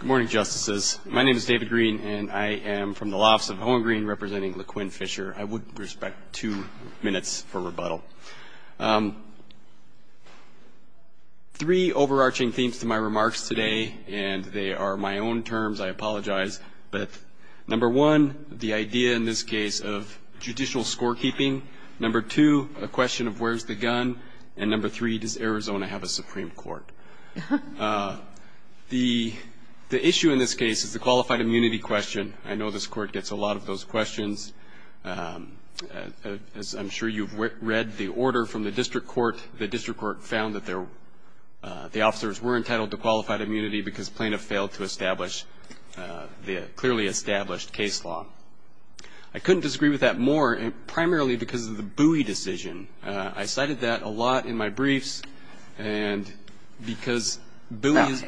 Good morning, Justices. My name is David Green, and I am from the lofts of Hohengreen representing Laquinn Fisher. I would respect two minutes for rebuttal. Three overarching themes to my remarks today, and they are my own terms. I apologize. But number one, the idea in this case of judicial scorekeeping. Number two, a question of where's the gun. And number three, does Arizona have a Supreme Court? The issue in this case is the qualified immunity question. I know this Court gets a lot of those questions. I'm sure you've read the order from the district court. The district court found that the officers were entitled to qualified immunity because plaintiff failed to establish the clearly established case law. I couldn't disagree with that more, primarily because of the buoy decision. I cited that a lot in my briefs, and because buoy is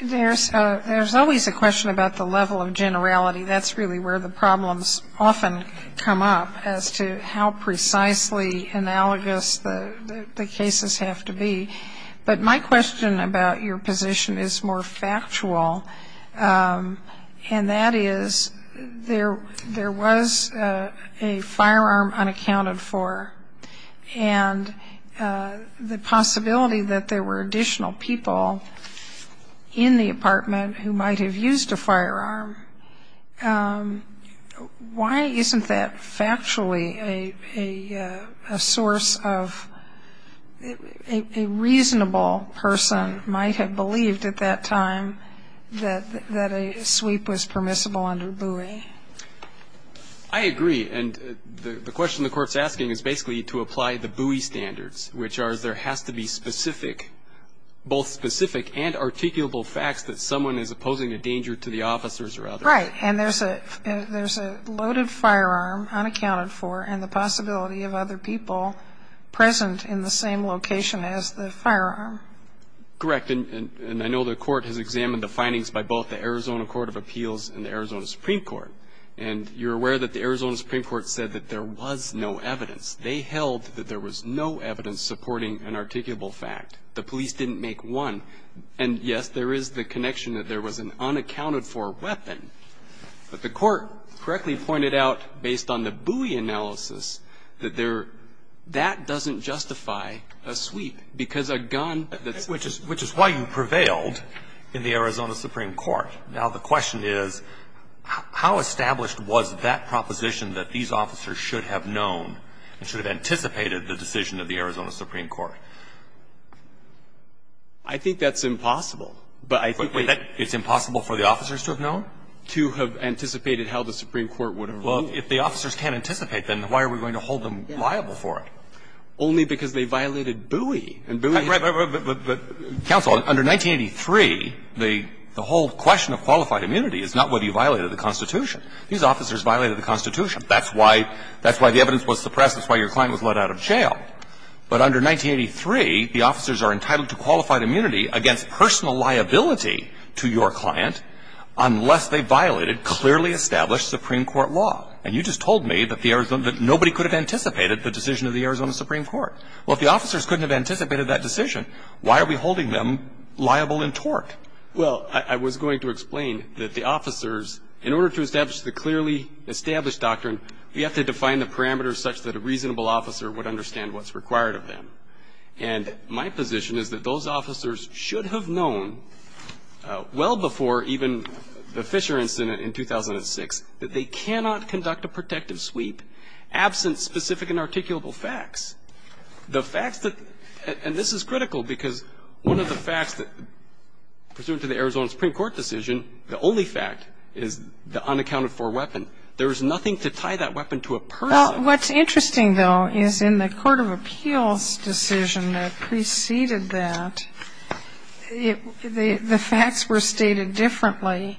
There's always a question about the level of generality. That's really where the problems often come up as to how precisely analogous the cases have to be. But my question about your position is more factual, and that is there was a firearm unaccounted for, and the possibility that there were additional people in the apartment who might have used a firearm, why isn't that factually a source of a reasonable person might have believed at that time that a sweep was permissible under buoy? I agree. And the question the Court's asking is basically to apply the buoy standards, which are there has to be specific, both specific and articulable facts that someone is opposing a danger to the officers or others. Right. And there's a loaded firearm unaccounted for, and the possibility of other people present in the same location as the firearm. Correct. And I know the Court has examined the findings by both the Arizona Court of Appeals and the Arizona Supreme Court. And you're aware that the Arizona Supreme Court said that there was no evidence. They held that there was no evidence supporting an articulable fact. The police didn't make one. And, yes, there is the connection that there was an unaccounted-for weapon. But the Court correctly pointed out, based on the buoy analysis, that there that doesn't justify a sweep, because a gun that's Which is why you prevailed in the Arizona Supreme Court. Now, the question is how established was that proposition that these officers should have known and should have anticipated the decision of the Arizona Supreme Court? I think that's impossible. But I think that Wait. It's impossible for the officers to have known? To have anticipated how the Supreme Court would have ruled? Well, if the officers can't anticipate, then why are we going to hold them liable for it? Only because they violated buoy. And buoy Counsel, under 1983, the whole question of qualified immunity is not whether you violated the Constitution. These officers violated the Constitution. That's why the evidence was suppressed. That's why your client was let out of jail. But under 1983, the officers are entitled to qualified immunity against personal liability to your client unless they violated clearly established Supreme Court law. And you just told me that nobody could have anticipated the decision of the Arizona Supreme Court. Well, if the officers couldn't have anticipated that decision, why are we holding them liable in tort? Well, I was going to explain that the officers, in order to establish the clearly established doctrine, we have to define the parameters such that a reasonable officer would understand what's required of them. And my position is that those officers should have known well before even the Fisher incident in 2006 that they cannot conduct a protective sweep absent specific inarticulable facts. The facts that – and this is critical because one of the facts that, pursuant to the Arizona Supreme Court decision, the only fact is the unaccounted for weapon. There is nothing to tie that weapon to a person. Well, what's interesting, though, is in the court of appeals decision that preceded that, the facts were stated differently.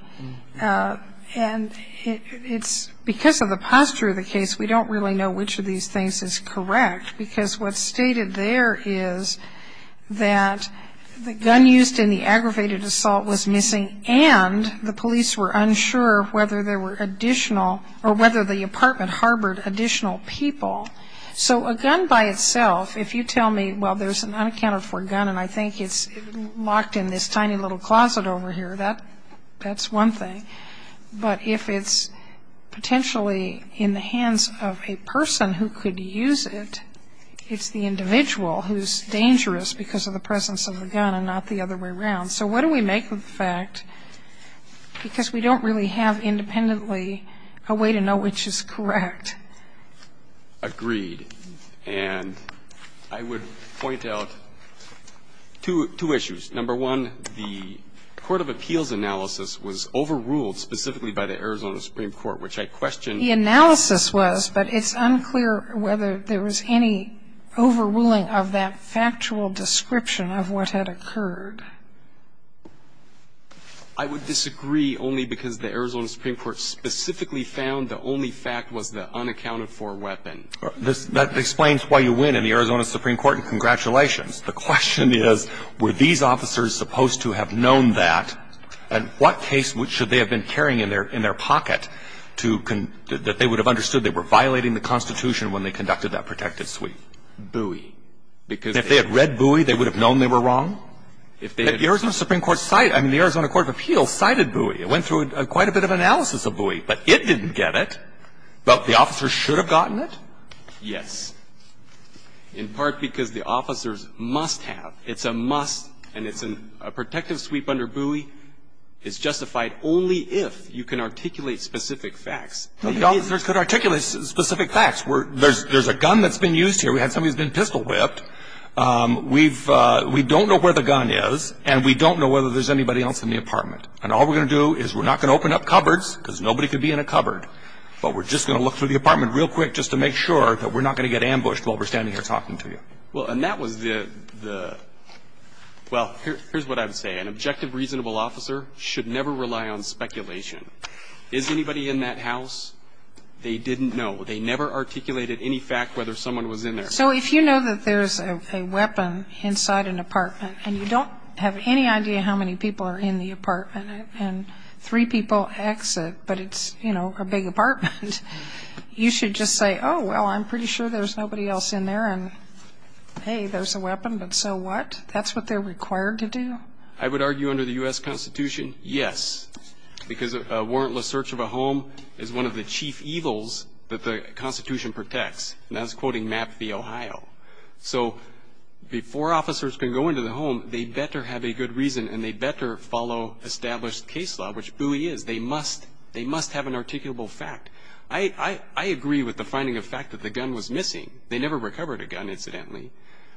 And it's because of the posture of the case we don't really know which of these things is correct because what's stated there is that the gun used in the aggravated assault was missing and the police were unsure whether there were additional – or whether the apartment harbored additional people. So a gun by itself, if you tell me, well, there's an unaccounted for gun and I think it's locked in this tiny little closet over here, that's one thing. But if it's potentially in the hands of a person who could use it, it's the individual who's dangerous because of the presence of the gun and not the other way around. So what do we make of the fact? Because we don't really have independently a way to know which is correct. Agreed. And I would point out two issues. Number one, the court of appeals analysis was overruled specifically by the Arizona Supreme Court, which I question – The analysis was, but it's unclear whether there was any overruling of that factual description of what had occurred. I would disagree only because the Arizona Supreme Court specifically found the only fact was the unaccounted for weapon. That explains why you win in the Arizona Supreme Court, and congratulations. The question is, were these officers supposed to have known that? And what case should they have been carrying in their pocket to – that they would have understood they were violating the Constitution when they conducted that protective sweep? Bowie. Because if they had read Bowie, they would have known they were wrong? If they had – But the Arizona Supreme Court cited – I mean, the Arizona court of appeals cited Bowie. It went through quite a bit of analysis of Bowie, but it didn't get it. But the officers should have gotten it? Yes. In part because the officers must have. It's a must, and it's a protective sweep under Bowie is justified only if you can articulate specific facts. The officers could articulate specific facts. There's a gun that's been used here. We had somebody who's been pistol whipped. We've – we don't know where the gun is, and we don't know whether there's anybody else in the apartment. And all we're going to do is we're not going to open up cupboards, because nobody could be in a cupboard, but we're just going to look through the apartment real quick just to make sure that we're not going to get ambushed while we're standing here talking to you. Well, and that was the – well, here's what I would say. An objective, reasonable officer should never rely on speculation. Is anybody in that house? They didn't know. They never articulated any fact whether someone was in there. So if you know that there's a weapon inside an apartment, and you don't have any idea how many people are in the apartment, and three people exit, but it's, you should just say, oh, well, I'm pretty sure there's nobody else in there, and, hey, there's a weapon, but so what? That's what they're required to do? I would argue under the U.S. Constitution, yes, because a warrantless search of a home is one of the chief evils that the Constitution protects. And that's quoting Mapp v. Ohio. So before officers can go into the home, they better have a good reason, and they better follow established case law, which BUI is. They must have an articulable fact. I agree with the finding of fact that the gun was missing. They never recovered a gun, incidentally.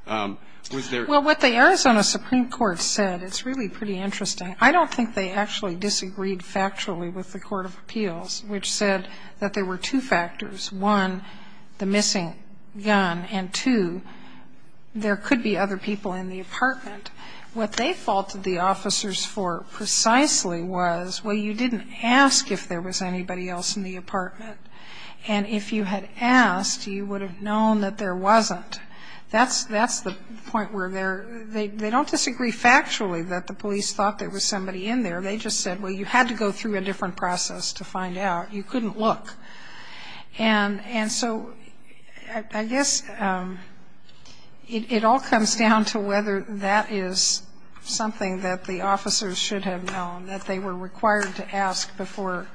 Well, what the Arizona Supreme Court said, it's really pretty interesting. I don't think they actually disagreed factually with the Court of Appeals, which said that there were two factors, one, the missing gun, and, two, there could be other people in the apartment. What they faulted the officers for precisely was, well, you didn't ask if there was anybody else in the apartment. And if you had asked, you would have known that there wasn't. That's the point where they don't disagree factually that the police thought there was somebody in there. They just said, well, you had to go through a different process to find out. You couldn't look. And so I guess it all comes down to whether that is something that the officers should have known, that they were required to ask before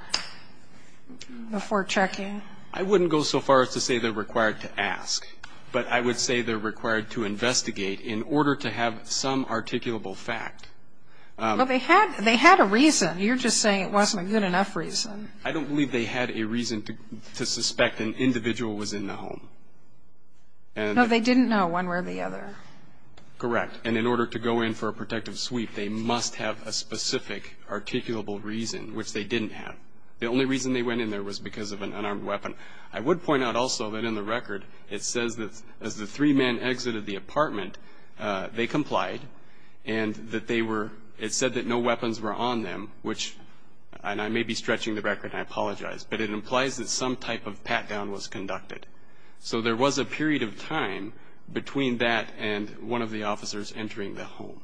checking. I wouldn't go so far as to say they're required to ask, but I would say they're required to investigate in order to have some articulable fact. Well, they had a reason. You're just saying it wasn't a good enough reason. I don't believe they had a reason to suspect an individual was in the home. No, they didn't know one way or the other. Correct. And in order to go in for a protective sweep, they must have a specific articulable reason, which they didn't have. The only reason they went in there was because of an unarmed weapon. I would point out also that in the record, it says that as the three men exited the apartment, they complied and that they were, it said that no weapons were on them, which, and I may be stretching the record and I apologize, but it implies that some type of pat-down was conducted. So there was a period of time between that and one of the officers entering the home.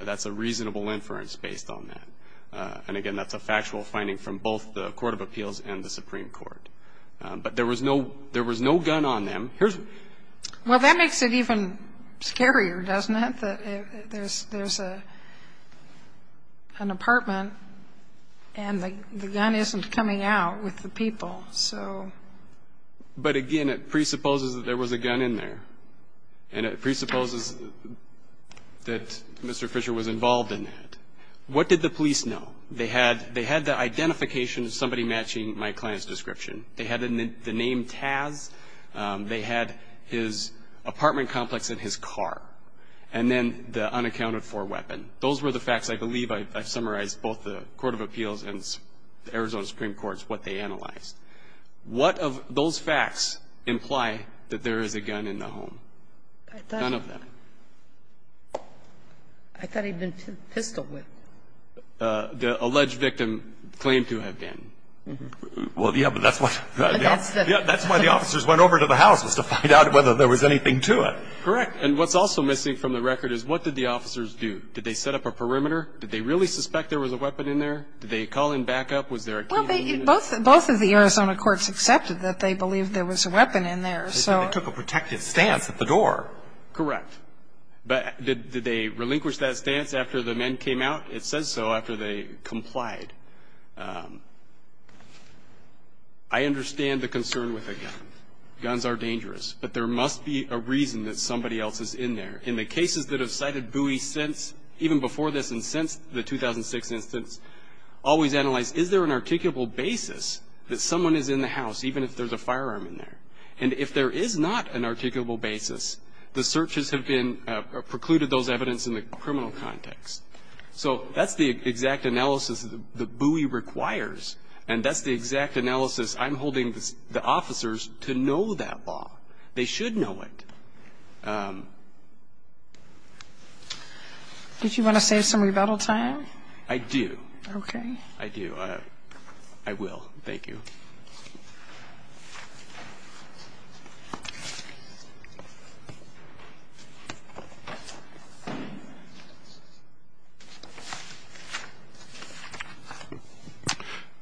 That's a reasonable inference based on that. And, again, that's a factual finding from both the Court of Appeals and the Supreme Court. But there was no gun on them. Well, that makes it even scarier, doesn't it, that there's an apartment and the gun isn't coming out with the people. But, again, it presupposes that there was a gun in there. And it presupposes that Mr. Fisher was involved in that. What did the police know? They had the identification of somebody matching my client's description. They had the name Taz. They had his apartment complex and his car. And then the unaccounted-for weapon. Those were the facts, I believe. I've summarized both the Court of Appeals and the Arizona Supreme Court's what they analyzed. What of those facts imply that there is a gun in the home? None of them. I thought he'd been pistol whipped. The alleged victim claimed to have been. Well, yeah, but that's why the officers went over to the house was to find out whether there was anything to it. Correct. And what's also missing from the record is what did the officers do? Did they set up a perimeter? Did they really suspect there was a weapon in there? Did they call in backup? Was there a TV unit? Well, both of the Arizona courts accepted that they believed there was a weapon in there, so. They took a protective stance at the door. Correct. But did they relinquish that stance after the men came out? It says so after they complied. I understand the concern with a gun. Guns are dangerous. But there must be a reason that somebody else is in there. In the cases that have cited Bowie since, even before this and since the 2006 instance, always analyze, is there an articulable basis that someone is in the house, even if there's a firearm in there? And if there is not an articulable basis, the searches have precluded those evidence in the criminal context. So that's the exact analysis that Bowie requires. And that's the exact analysis I'm holding the officers to know that law. They should know it. Did you want to save some rebuttal time? I do. Okay. I do. I will. Thank you.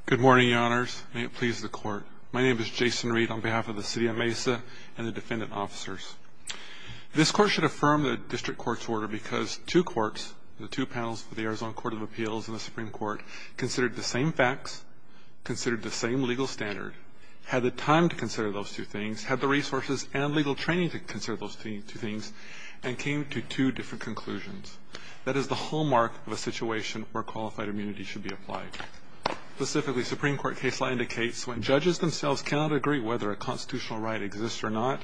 Good morning, Your Honors. May it please the Court. My name is Jason Reed on behalf of the city of Mesa and the defendant officers. This Court should affirm the district court's order because two courts, the two panels for the Arizona Court of Appeals and the Supreme Court, considered the same facts, considered the same legal standard, had the time to consider those two things, had the resources and legal training to consider those two things, and came to two different conclusions. That is the hallmark of a situation where qualified immunity should be applied. Specifically, Supreme Court case law indicates when judges themselves cannot agree whether a constitutional right exists or not,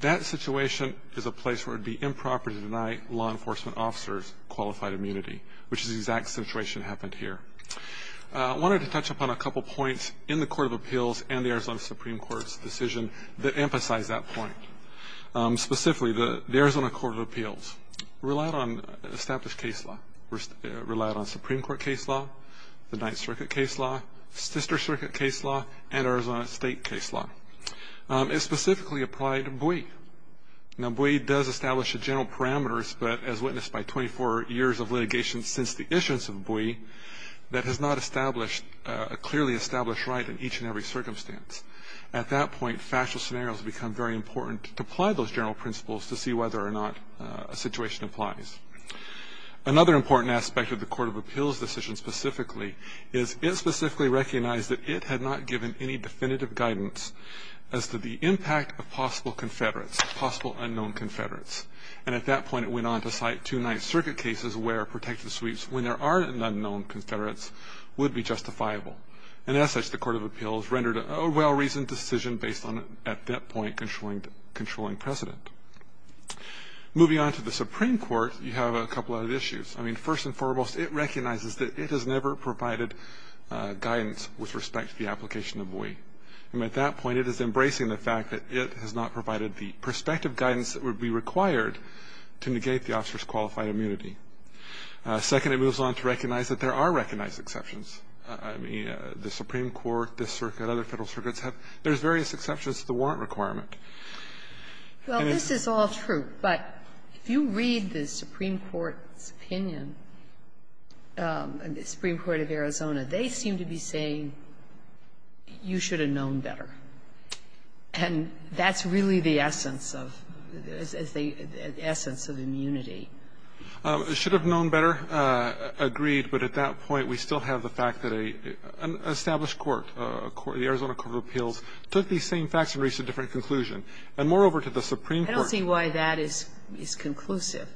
that situation is a place where it would be improper to deny law enforcement officers qualified immunity, which is the exact situation that happened here. I wanted to touch upon a couple of points in the Court of Appeals and the Arizona Supreme Court's decision that emphasize that point. Specifically, the Arizona Court of Appeals relied on established case law, relied on Supreme Court case law, the Ninth Circuit case law, Sister Circuit case law, and Arizona State case law. It specifically applied BUI. Now, BUI does establish the general parameters, but as witnessed by 24 years of litigation since the issuance of BUI, that has not established a clearly established right in each and every circumstance. At that point, factual scenarios become very important to apply those general principles to see whether or not a situation applies. Another important aspect of the Court of Appeals decision specifically is it specifically recognized that it had not given any definitive guidance as to the impact of possible Confederates, possible unknown Confederates. And at that point, it went on to cite two Ninth Circuit cases where protected sweeps when there are unknown Confederates would be justifiable. And as such, the Court of Appeals rendered a well-reasoned decision based on, at that point, controlling precedent. Moving on to the Supreme Court, you have a couple of issues. I mean, first and foremost, it recognizes that it has never provided guidance with respect to the application of BUI. And at that point, it is embracing the fact that it has not provided the prospective guidance that would be required to negate the officer's qualified immunity. Second, it moves on to recognize that there are recognized exceptions. I mean, the Supreme Court, this circuit, other Federal circuits have – there's various exceptions to the warrant requirement. And it's – Well, this is all true. But if you read the Supreme Court's opinion, the Supreme Court of Arizona, they seem to be saying you should have known better. And that's really the essence of – the essence of immunity. Should have known better. Agreed. But at that point, we still have the fact that an established court, the Arizona Court of Appeals, took these same facts and reached a different conclusion. And moreover, to the Supreme Court – I don't see why that is conclusive.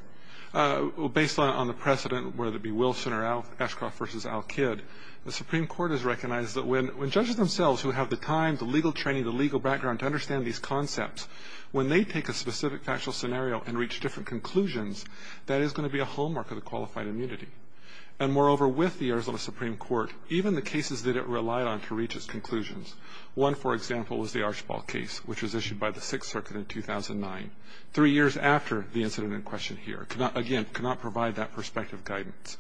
Based on the precedent, whether it be Wilson or Ashcroft v. Al-Kid, the Supreme Court is still training the legal background to understand these concepts. When they take a specific factual scenario and reach different conclusions, that is going to be a hallmark of the qualified immunity. And moreover, with the Arizona Supreme Court, even the cases that it relied on to reach its conclusions – one, for example, is the Archibald case, which was issued by the Sixth Circuit in 2009, three years after the incident in question here. Again, cannot provide that prospective guidance.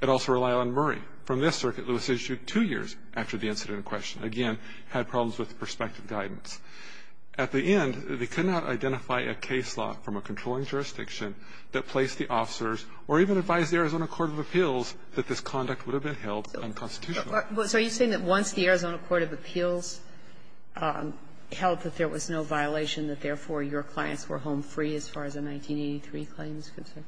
It also relied on Murray. From this circuit, it was issued two years after the incident in question. Again, had problems with prospective guidance. At the end, they could not identify a case law from a controlling jurisdiction that placed the officers, or even advised the Arizona Court of Appeals, that this conduct would have been held unconstitutional. Kagan. So are you saying that once the Arizona Court of Appeals held that there was no violation, that therefore your clients were home free as far as the 1983 claim is concerned?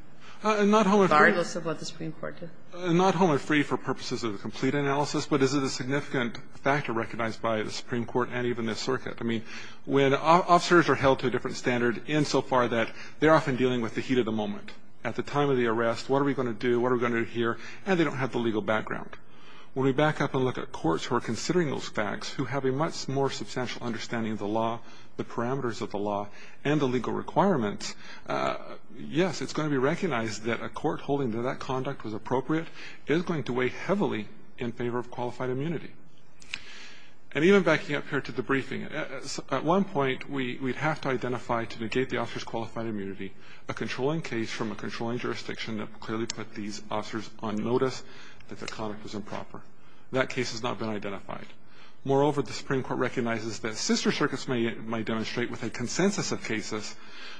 Not home free. Variables of what the Supreme Court did. Not home free for purposes of the complete analysis, but is it a significant factor recognized by the Supreme Court and even the circuit? I mean, when officers are held to a different standard insofar that they're often dealing with the heat of the moment. At the time of the arrest, what are we going to do? What are we going to hear? And they don't have the legal background. When we back up and look at courts who are considering those facts, who have a much more substantial understanding of the law, the parameters of the law, and the legal requirements, yes, it's going to be recognized that a court holding that that is appropriate is going to weigh heavily in favor of qualified immunity. And even backing up here to the briefing, at one point we'd have to identify to negate the officer's qualified immunity a controlling case from a controlling jurisdiction that clearly put these officers on notice that the conduct was improper. That case has not been identified. Moreover, the Supreme Court recognizes that sister circuits may demonstrate with a consensus of cases,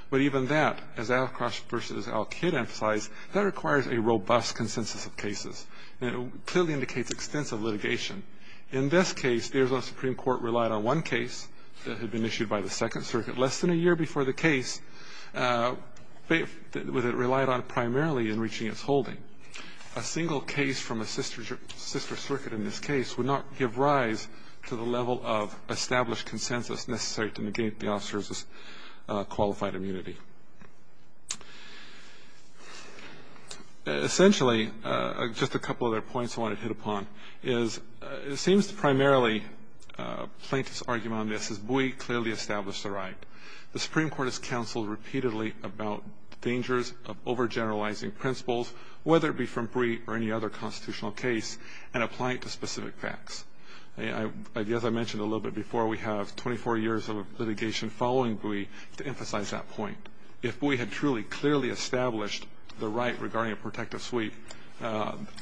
but even that, as Al Cross versus Al Kidd emphasized, that it clearly indicates extensive litigation. In this case, the Arizona Supreme Court relied on one case that had been issued by the Second Circuit less than a year before the case that it relied on primarily in reaching its holding. A single case from a sister circuit in this case would not give rise to the level of established consensus necessary to negate the officer's qualified immunity. Essentially, just a couple other points I wanted to hit upon is it seems primarily plaintiff's argument on this is Buie clearly established the right. The Supreme Court has counseled repeatedly about dangers of overgeneralizing principles, whether it be from Buie or any other constitutional case, and applying it to specific facts. As I mentioned a little bit before, we have 24 years of litigation following Buie to emphasize that point. If Buie had truly clearly established the right regarding a protective suite,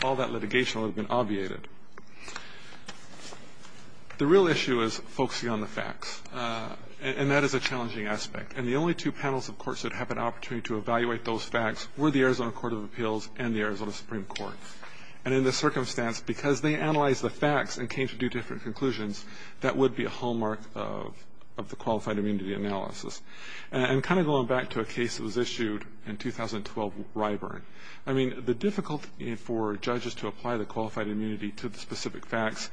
all that litigation would have been obviated. The real issue is focusing on the facts, and that is a challenging aspect. And the only two panels of courts that have an opportunity to evaluate those facts were the Arizona Court of Appeals and the Arizona Supreme Court. And in this circumstance, because they analyzed the facts and came to different conclusions, that would be a hallmark of the qualified immunity analysis. And kind of going back to a case that was issued in 2012, Ryburn, I mean, the difficulty for judges to apply the qualified immunity to the specific facts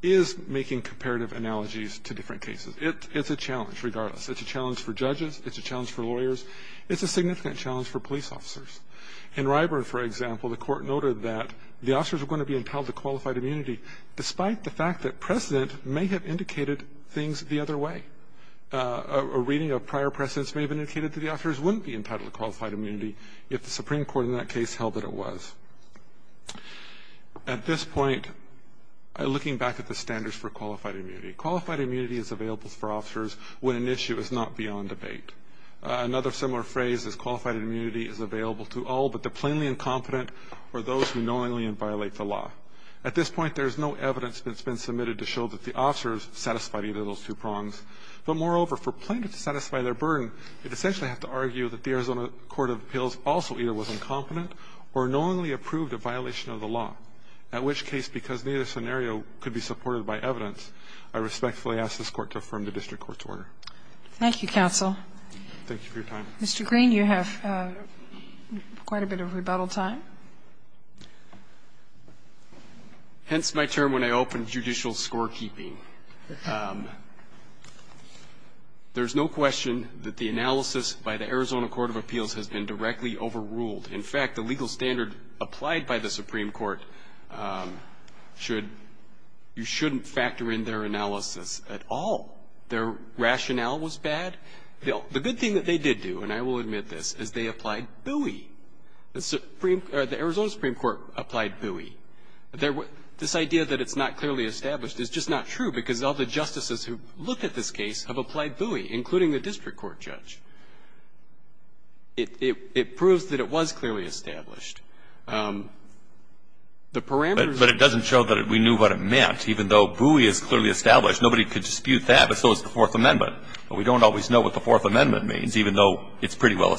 is making comparative analogies to different cases. It's a challenge regardless. It's a challenge for judges. It's a challenge for lawyers. It's a significant challenge for police officers. In Ryburn, for example, the court noted that the officers were going to be entitled to qualified immunity despite the fact that precedent may have indicated things the other way. A reading of prior precedents may have indicated that the officers wouldn't be entitled to qualified immunity if the Supreme Court in that case held that it was. At this point, looking back at the standards for qualified immunity, qualified immunity is available for officers when an issue is not beyond debate. Another similar phrase is qualified immunity is available to all but the plainly incompetent or those who knowingly violate the law. At this point, there is no evidence that's been submitted to show that the officers are qualified either of those two prongs. But moreover, for plaintiff to satisfy their burden, they essentially have to argue that the Arizona court of appeals also either was incompetent or knowingly approved a violation of the law, at which case, because neither scenario could be supported by evidence, I respectfully ask this Court to affirm the district court's order. Thank you, counsel. Thank you for your time. Mr. Green, you have quite a bit of rebuttal time. Hence my term when I open judicial scorekeeping. There's no question that the analysis by the Arizona court of appeals has been directly overruled. In fact, the legal standard applied by the Supreme Court should you shouldn't factor in their analysis at all. Their rationale was bad. The good thing that they did do, and I will admit this, is they applied buoy. The Arizona Supreme Court applied buoy. This idea that it's not clearly established is just not true, because all the justices who looked at this case have applied buoy, including the district court judge. It proves that it was clearly established. The parameters of the case. But it doesn't show that we knew what it meant. Even though buoy is clearly established, nobody could dispute that, but so is the Fourth Amendment. We don't always know what the Fourth Amendment means, even though it's pretty well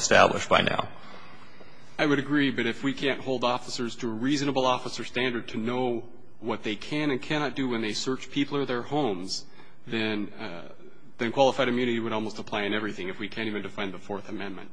I would agree, but if we can't hold officers to a reasonable officer standard to know what they can and cannot do when they search people or their homes, then qualified immunity would almost apply in everything if we can't even define the Fourth Amendment.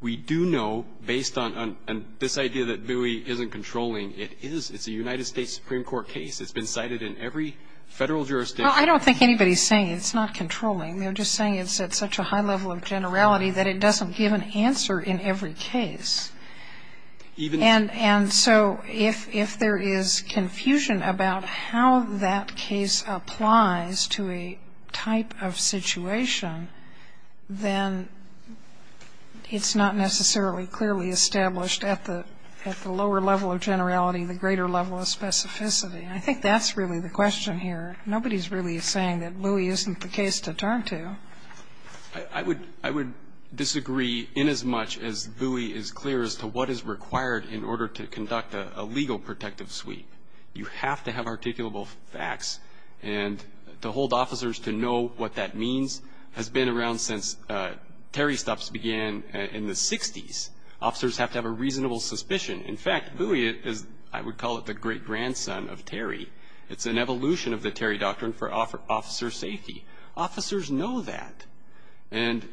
We do know, based on this idea that buoy isn't controlling, it is. It's a United States Supreme Court case. It's been cited in every Federal jurisdiction. Well, I don't think anybody's saying it's not controlling. They're just saying it's at such a high level of generality that it doesn't give an answer in every case. And so if there is confusion about how that case applies to a type of situation, then it's not necessarily clearly established at the lower level of generality, the greater level of specificity. I think that's really the question here. Nobody's really saying that buoy isn't the case to turn to. I would disagree inasmuch as buoy is clear as to what is required in order to conduct a legal protective sweep. You have to have articulable facts. And to hold officers to know what that means has been around since Terry stuffs began in the 60s. Officers have to have a reasonable suspicion. In fact, buoy is, I would call it the great-grandson of Terry. It's an evolution of the Terry Doctrine for officer safety. Officers know that. And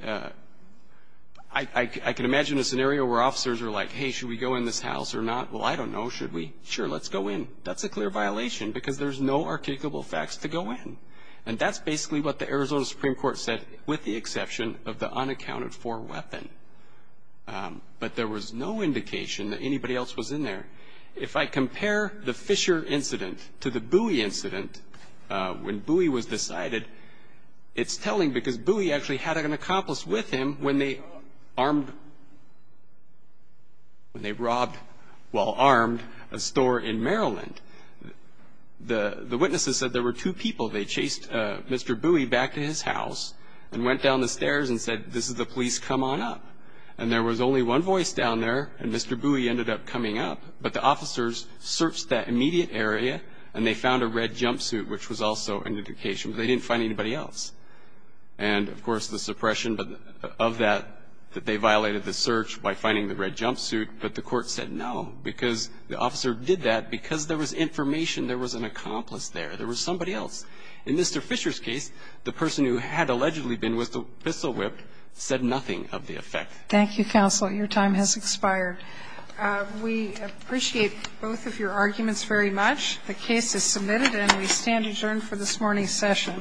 I can imagine a scenario where officers are like, hey, should we go in this house or not? Well, I don't know. Should we? Sure, let's go in. That's a clear violation because there's no articulable facts to go in. And that's basically what the Arizona Supreme Court said with the exception of the unaccounted-for weapon. But there was no indication that anybody else was in there. If I compare the Fisher incident to the buoy incident, when buoy was decided, it's telling because buoy actually had an accomplice with him when they robbed, while armed, a store in Maryland. The witnesses said there were two people. They chased Mr. Buoy back to his house and went down the stairs and said, this is the police, come on up. And there was only one voice down there, and Mr. Buoy ended up coming up. But the officers searched that immediate area, and they found a red jumpsuit, which was also an indication that they didn't find anybody else. And, of course, the suppression of that, that they violated the search by finding the red jumpsuit, but the court said no because the officer did that because there was information there was an accomplice there. There was somebody else. In Mr. Fisher's case, the person who had allegedly been whistle-whipped said nothing of the effect. Thank you, counsel. Your time has expired. We appreciate both of your arguments very much. The case is submitted, and we stand adjourned for this morning's session.